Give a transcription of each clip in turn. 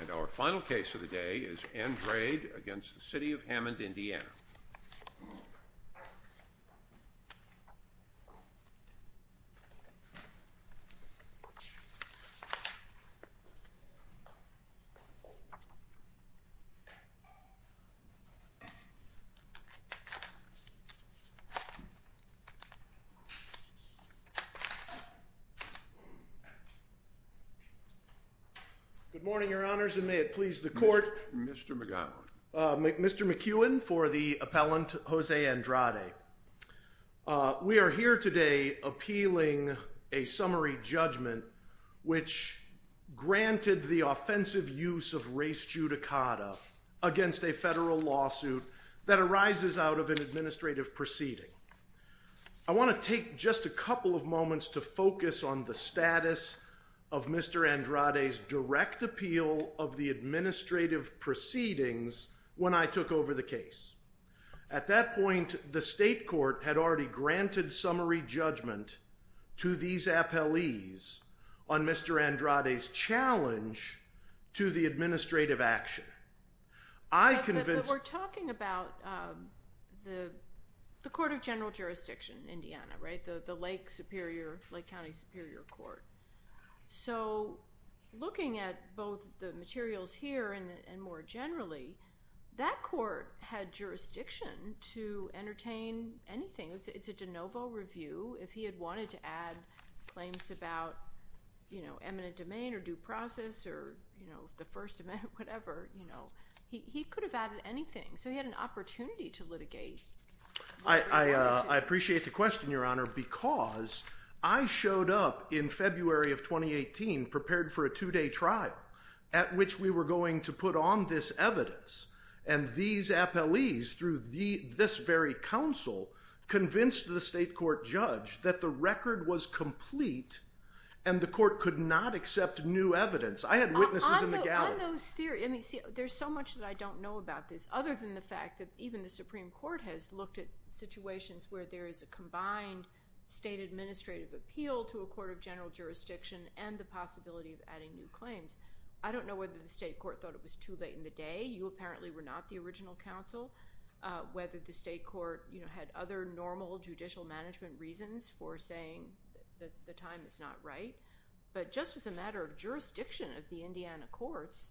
And our final case of the day is Andrade v. City of Hammond, Indiana. Good morning, your honors, and may it please the court. Mr. McGowan. Mr. McEwen for the appellant, Jose Andrade. We are here today appealing a summary judgment which granted the offensive use of race judicata against a federal lawsuit that arises out of an administrative proceeding. I want to take just a couple of moments to focus on the status of Mr. Andrade's direct appeal of the administrative proceedings when I took over the case. At that point, the state court had already granted summary judgment to these appellees on Mr. Andrade's challenge to the administrative action. We're talking about the Court of General Jurisdiction in Indiana, right? The Lake Superior, Lake County Superior Court. So looking at both the materials here and more generally, that court had jurisdiction to entertain anything. It's a de novo review. If he had wanted to add claims about eminent domain or due process or the first amendment, whatever, he could have added anything. So he had an opportunity to litigate. I appreciate the question, your honor, because I showed up in February of 2018 prepared for a two-day trial at which we were going to put on this evidence. And these appellees through this very counsel convinced the state court judge that the record was complete and the court could not accept new evidence. I had witnesses in the gallery. On those theories, I mean, see, there's so much that I don't know about this other than the fact that even the Supreme Court has looked at situations where there is a combined state administrative appeal to a court of general jurisdiction and the possibility of adding new claims. I don't know whether the state court thought it was too late in the day. You apparently were not the original counsel. Whether the state court had other normal judicial management reasons for saying that the time is not right. But just as a matter of jurisdiction of the Indiana courts,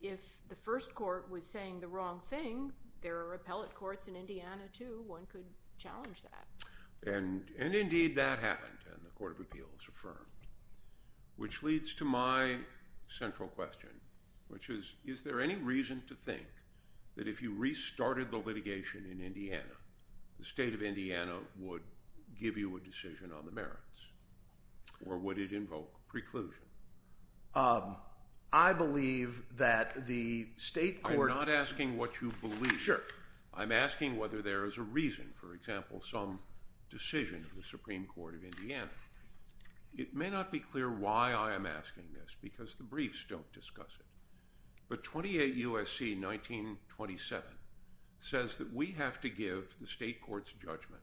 if the first court was saying the wrong thing, there are appellate courts in Indiana too. One could challenge that. And indeed that happened, and the court of appeals affirmed, which leads to my central question, which is, is there any reason to think that if you restarted the litigation in Indiana, the state of Indiana would give you a decision on the merits, or would it invoke preclusion? I believe that the state court— I'm not asking what you believe. Sure. I'm asking whether there is a reason, for example, some decision of the Supreme Court of Indiana. It may not be clear why I am asking this, because the briefs don't discuss it. But 28 U.S.C. 1927 says that we have to give the state court's judgment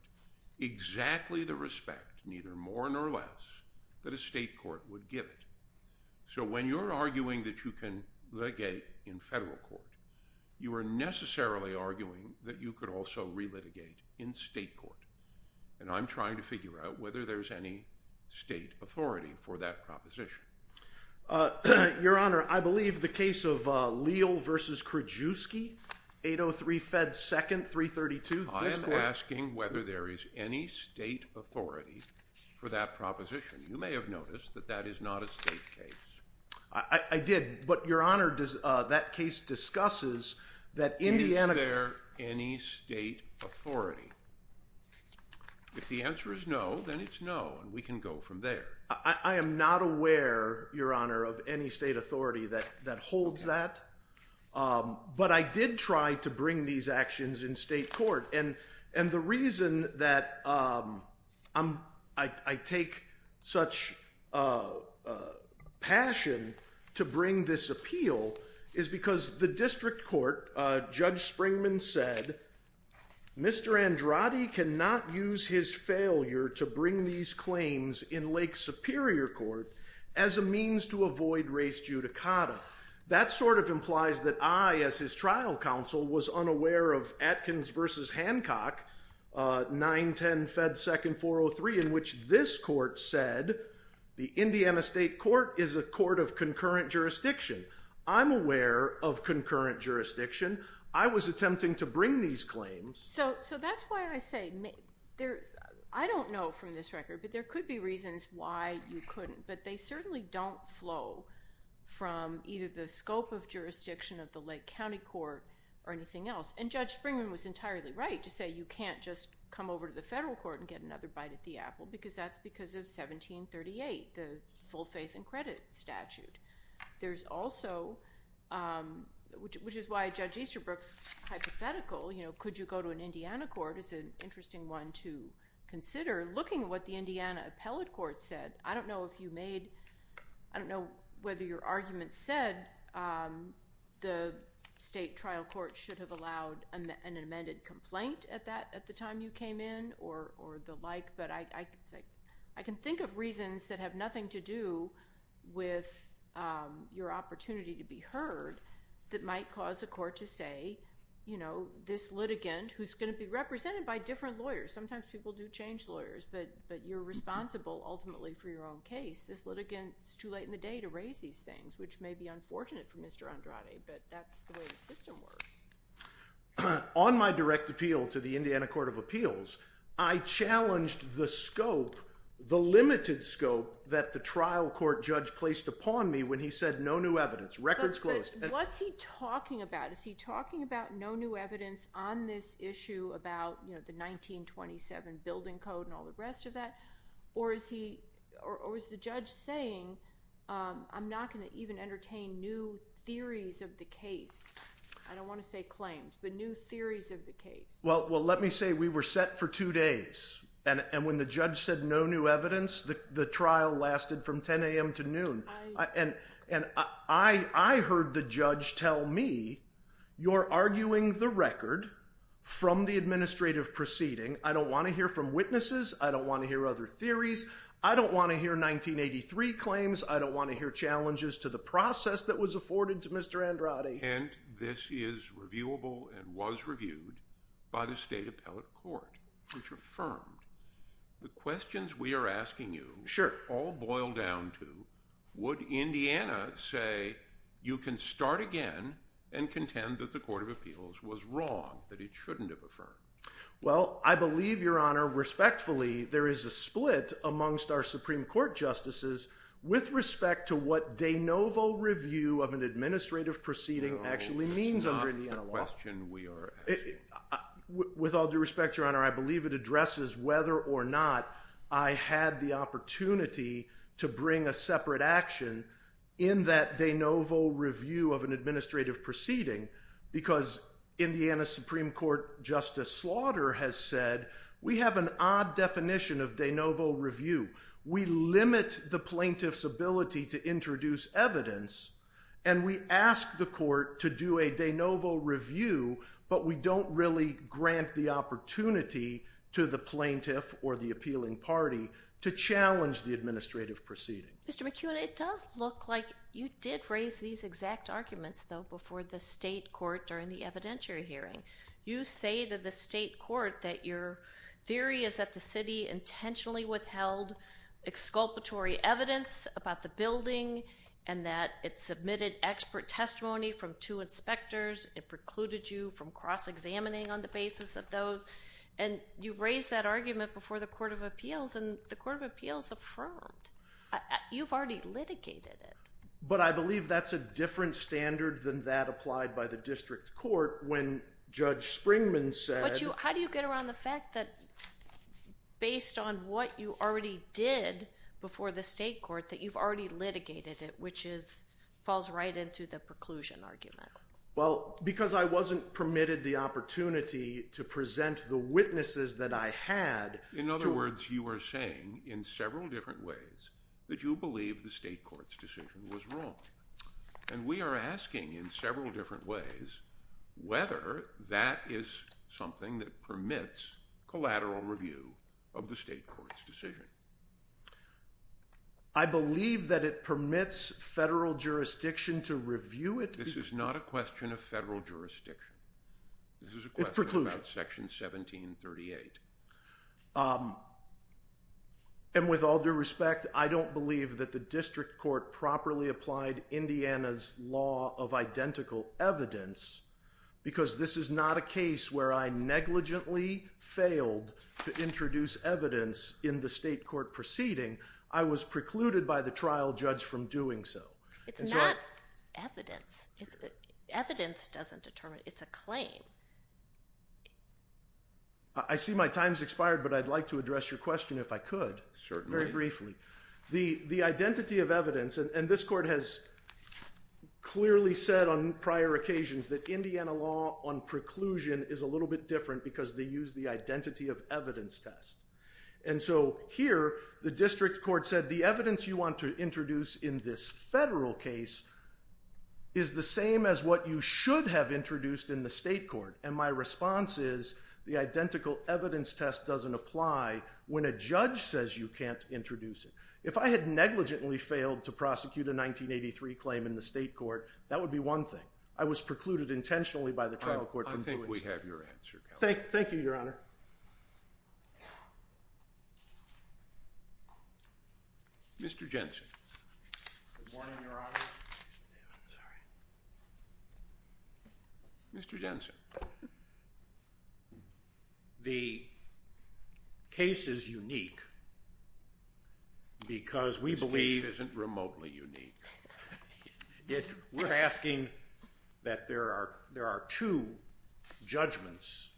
exactly the respect, neither more nor less, that a state court would give it. So when you're arguing that you can litigate in federal court, you are necessarily arguing that you could also relitigate in state court. And I'm trying to figure out whether there's any state authority for that proposition. Your Honor, I believe the case of Leal v. Krajewski, 803 Fed 2nd, 332— I am asking whether there is any state authority for that proposition. You may have noticed that that is not a state case. I did. But, Your Honor, that case discusses that Indiana— If the answer is no, then it's no, and we can go from there. I am not aware, Your Honor, of any state authority that holds that. But I did try to bring these actions in state court. And the reason that I take such passion to bring this appeal is because the district court, Judge Springman said, Mr. Andrade cannot use his failure to bring these claims in Lake Superior Court as a means to avoid race judicata. That sort of implies that I, as his trial counsel, was unaware of Atkins v. Hancock, 910 Fed 2nd, 403, in which this court said the Indiana State Court is a court of concurrent jurisdiction. I'm aware of concurrent jurisdiction. I was attempting to bring these claims. So that's why I say—I don't know from this record, but there could be reasons why you couldn't. But they certainly don't flow from either the scope of jurisdiction of the Lake County Court or anything else. And Judge Springman was entirely right to say you can't just come over to the federal court and get another bite at the apple because that's because of 1738, the full faith and credit statute. There's also—which is why Judge Easterbrook's hypothetical, you know, could you go to an Indiana court, is an interesting one to consider. Looking at what the Indiana Appellate Court said, I don't know if you made—I don't know whether your argument said the state trial court should have allowed an amended complaint at the time you came in or the like. But I can think of reasons that have nothing to do with your opportunity to be heard that might cause a court to say, you know, this litigant who's going to be represented by different lawyers. Sometimes people do change lawyers, but you're responsible ultimately for your own case. This litigant, it's too late in the day to raise these things, which may be unfortunate for Mr. Andrade, but that's the way the system works. On my direct appeal to the Indiana Court of Appeals, I challenged the scope, the limited scope, that the trial court judge placed upon me when he said no new evidence, records closed. What's he talking about? Is he talking about no new evidence on this issue about, you know, the 1927 building code and all the rest of that? Or is he—or is the judge saying, I'm not going to even entertain new theories of the case? I don't want to say claims, but new theories of the case. Well, let me say we were set for two days, and when the judge said no new evidence, the trial lasted from 10 a.m. to noon. And I heard the judge tell me, you're arguing the record from the administrative proceeding. I don't want to hear from witnesses. I don't want to hear other theories. I don't want to hear 1983 claims. I don't want to hear challenges to the process that was afforded to Mr. Andrade. And this is reviewable and was reviewed by the state appellate court, which affirmed. The questions we are asking you all boil down to, would Indiana say you can start again and contend that the Court of Appeals was wrong, that it shouldn't have affirmed? Well, I believe, Your Honor, respectfully, there is a split amongst our Supreme Court justices with respect to what de novo review of an administrative proceeding actually means under Indiana law. No, that's not the question we are asking. With all due respect, Your Honor, I believe it addresses whether or not I had the opportunity to bring a separate action in that de novo review of an administrative proceeding because Indiana Supreme Court Justice Slaughter has said we have an odd definition of de novo review. We limit the plaintiff's ability to introduce evidence, and we ask the court to do a de novo review, but we don't really grant the opportunity to the plaintiff or the appealing party to challenge the administrative proceeding. Mr. McKeown, it does look like you did raise these exact arguments, though, before the state court during the evidentiary hearing. You say to the state court that your theory is that the city intentionally withheld exculpatory evidence about the building and that it submitted expert testimony from two inspectors. It precluded you from cross-examining on the basis of those, and you raised that argument before the Court of Appeals, and the Court of Appeals affirmed. You've already litigated it. But I believe that's a different standard than that applied by the district court when Judge Springman said How do you get around the fact that based on what you already did before the state court that you've already litigated it, which falls right into the preclusion argument? Well, because I wasn't permitted the opportunity to present the witnesses that I had. In other words, you are saying in several different ways that you believe the state court's decision was wrong, and we are asking in several different ways whether that is something that permits collateral review of the state court's decision. I believe that it permits federal jurisdiction to review it. This is not a question of federal jurisdiction. It's preclusion. This is a question about Section 1738. And with all due respect, I don't believe that the district court properly applied Indiana's law of identical evidence because this is not a case where I negligently failed to introduce evidence in the state court proceeding. I was precluded by the trial judge from doing so. It's not evidence. Evidence doesn't determine it. It's a claim. I see my time's expired, but I'd like to address your question if I could. Certainly. Very briefly. The identity of evidence, and this court has clearly said on prior occasions that Indiana law on preclusion is a little bit different because they use the identity of evidence test. And so here the district court said the evidence you want to introduce in this federal case is the same as what you should have introduced in the state court. And my response is the identical evidence test doesn't apply when a judge says you can't introduce it. If I had negligently failed to prosecute a 1983 claim in the state court, that would be one thing. I was precluded intentionally by the trial court from doing so. I think we have your answer. Thank you, Your Honor. Mr. Jensen. Good morning, Your Honor. Mr. Jensen. The case is unique because we believe. This case isn't remotely unique. We're asking that there are two judgments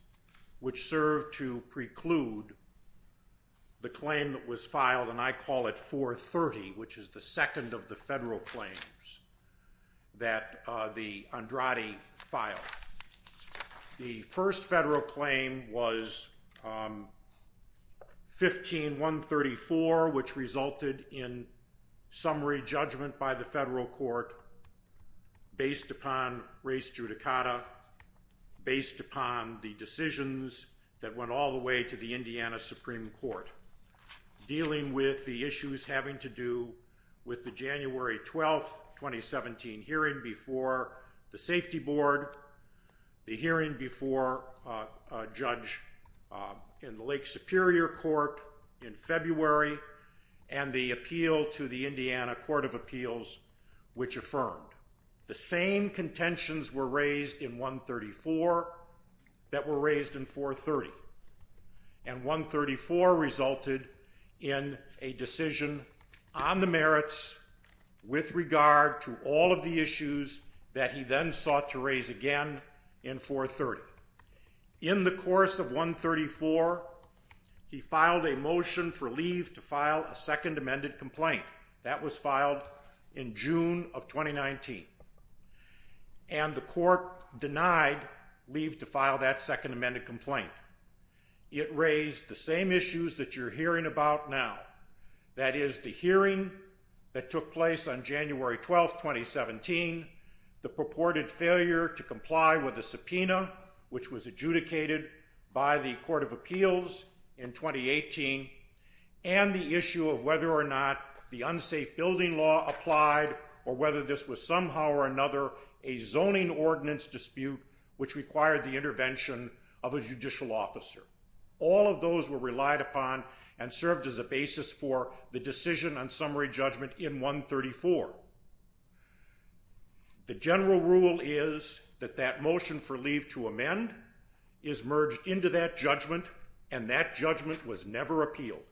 which serve to preclude the claim that was filed, and I call it 430, which is the second of the federal claims that the Andrade filed. The first federal claim was 15-134, which resulted in summary judgment by the federal court based upon race judicata, based upon the decisions that went all the way to the Indiana Supreme Court, dealing with the issues having to do with the January 12, 2017, hearing before the Safety Board, the hearing before a judge in the Lake Superior Court in February, and the appeal to the Indiana Court of Appeals, which affirmed. The same contentions were raised in 134 that were raised in 430, and 134 resulted in a decision on the merits with regard to all of the issues that he then sought to raise again in 430. In the course of 134, he filed a motion for leave to file a second amended complaint. That was filed in June of 2019, and the court denied leave to file that second amended complaint. It raised the same issues that you're hearing about now, that is the hearing that took place on January 12, 2017, the purported failure to comply with the subpoena, which was adjudicated by the Court of Appeals in 2018, and the issue of whether or not the unsafe building law applied, or whether this was somehow or another a zoning ordinance dispute which required the intervention of a judicial officer. All of those were relied upon and served as a basis for the decision on summary judgment in 134. The general rule is that that motion for leave to amend is merged into that judgment, and that judgment was never appealed.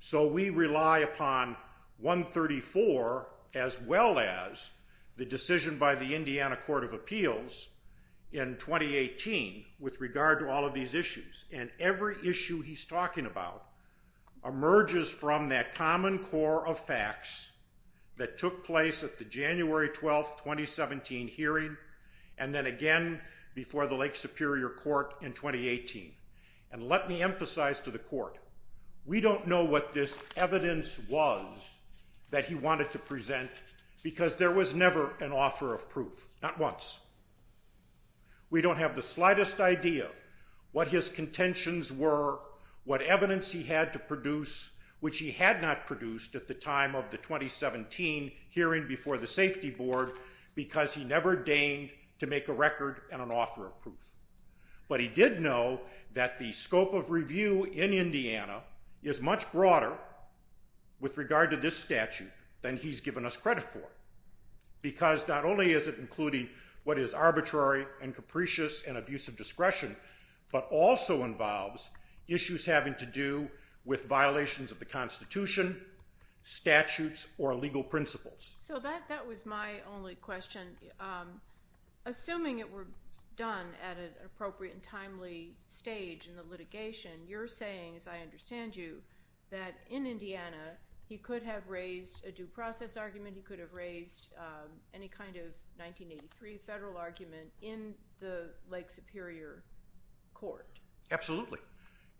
So we rely upon 134 as well as the decision by the Indiana Court of Appeals in 2018 with regard to all of these issues, and every issue he's talking about emerges from that common core of facts that took place at the January 12, 2017 hearing, and then again before the Lake Superior Court in 2018. And let me emphasize to the Court, we don't know what this evidence was that he wanted to present, because there was never an author of proof, not once. We don't have the slightest idea what his contentions were, what evidence he had to produce, which he had not produced at the time of the 2017 hearing before the Safety Board, because he never deigned to make a record and an author of proof. But he did know that the scope of review in Indiana is much broader with regard to this statute than he's given us credit for, because not only is it including what is arbitrary and capricious and abuse of discretion, but also involves issues having to do with violations of the Constitution, statutes, or legal principles. So that was my only question. Assuming it were done at an appropriate and timely stage in the litigation, you're saying, as I understand you, that in Indiana he could have raised a due process argument, he could have raised any kind of 1983 federal argument in the Lake Superior Court. Absolutely.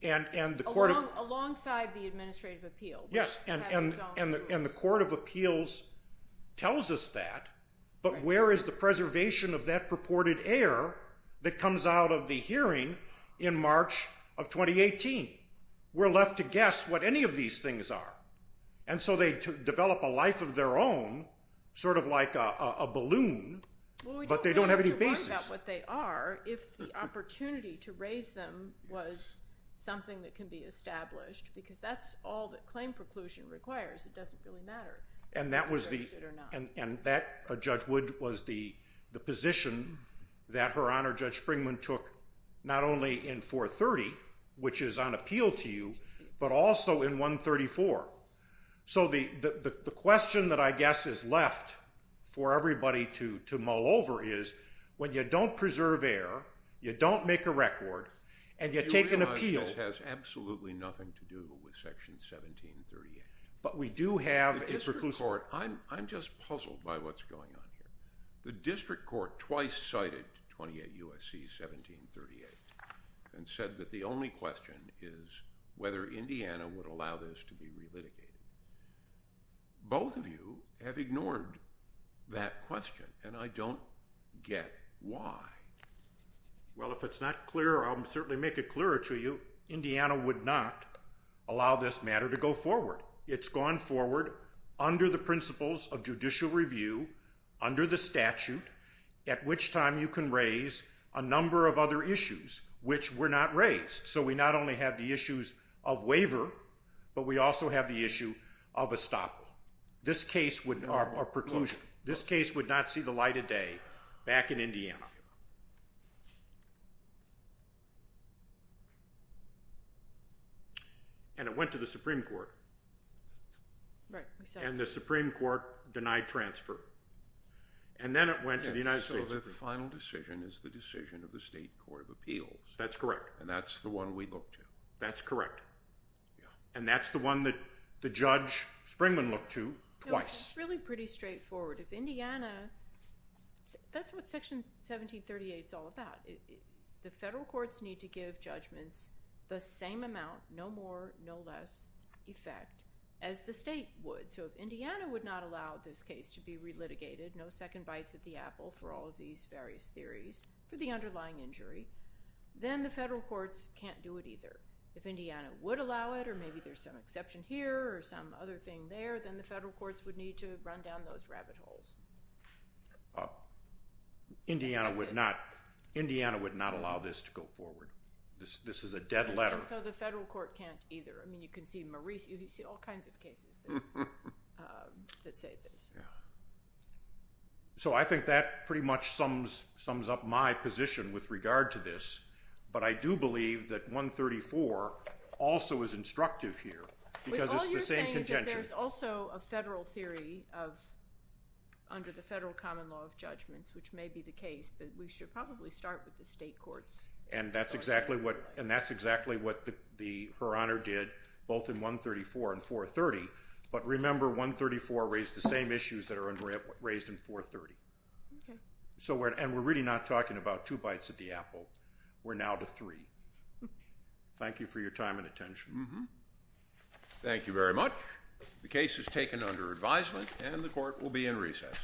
Alongside the Administrative Appeal. Yes, and the Court of Appeals tells us that, but where is the preservation of that purported error that comes out of the hearing in March of 2018? We're left to guess what any of these things are. And so they develop a life of their own, sort of like a balloon, but they don't have any basis. Well, we don't have to worry about what they are if the opportunity to raise them was something that can be established, because that's all that claim preclusion requires. It doesn't really matter if they're registered or not. And that, Judge Wood, was the position that Her Honor Judge Springman took not only in 430, which is on appeal to you, but also in 134. So the question that I guess is left for everybody to mull over is, when you don't preserve error, you don't make a record, and you take an appeal. Do you realize this has absolutely nothing to do with Section 1738? But we do have a preclusion. I'm just puzzled by what's going on here. The district court twice cited 28 U.S.C. 1738 and said that the only question is whether Indiana would allow this to be relitigated. Both of you have ignored that question, and I don't get why. Well, if it's not clear, I'll certainly make it clearer to you. Indiana would not allow this matter to go forward. It's gone forward under the principles of judicial review, under the statute, at which time you can raise a number of other issues which were not raised. So we not only have the issues of waiver, but we also have the issue of estoppel or preclusion. This case would not see the light of day back in Indiana. And it went to the Supreme Court. And the Supreme Court denied transfer. And then it went to the United States Supreme Court. So the final decision is the decision of the State Court of Appeals. That's correct. And that's the one we looked to. That's correct. And that's the one that Judge Springman looked to twice. It's really pretty straightforward. If Indiana – that's what Section 1738 is all about. The federal courts need to give judgments the same amount, no more, no less effect as the State would. So if Indiana would not allow this case to be relitigated, no second bites at the apple for all of these various theories, for the underlying injury, then the federal courts can't do it either. If Indiana would allow it, or maybe there's some exception here or some other thing there, then the federal courts would need to run down those rabbit holes. Indiana would not allow this to go forward. This is a dead letter. And so the federal court can't either. I mean, you can see all kinds of cases that say this. So I think that pretty much sums up my position with regard to this. But I do believe that 134 also is instructive here because it's the same contention. But all you're saying is that there's also a federal theory under the federal common law of judgments, which may be the case, but we should probably start with the state courts. And that's exactly what Her Honor did, both in 134 and 430. But remember, 134 raised the same issues that are raised in 430. And we're really not talking about two bites at the apple. We're now to three. Thank you for your time and attention. Thank you very much. The case is taken under advisement, and the court will be in recess.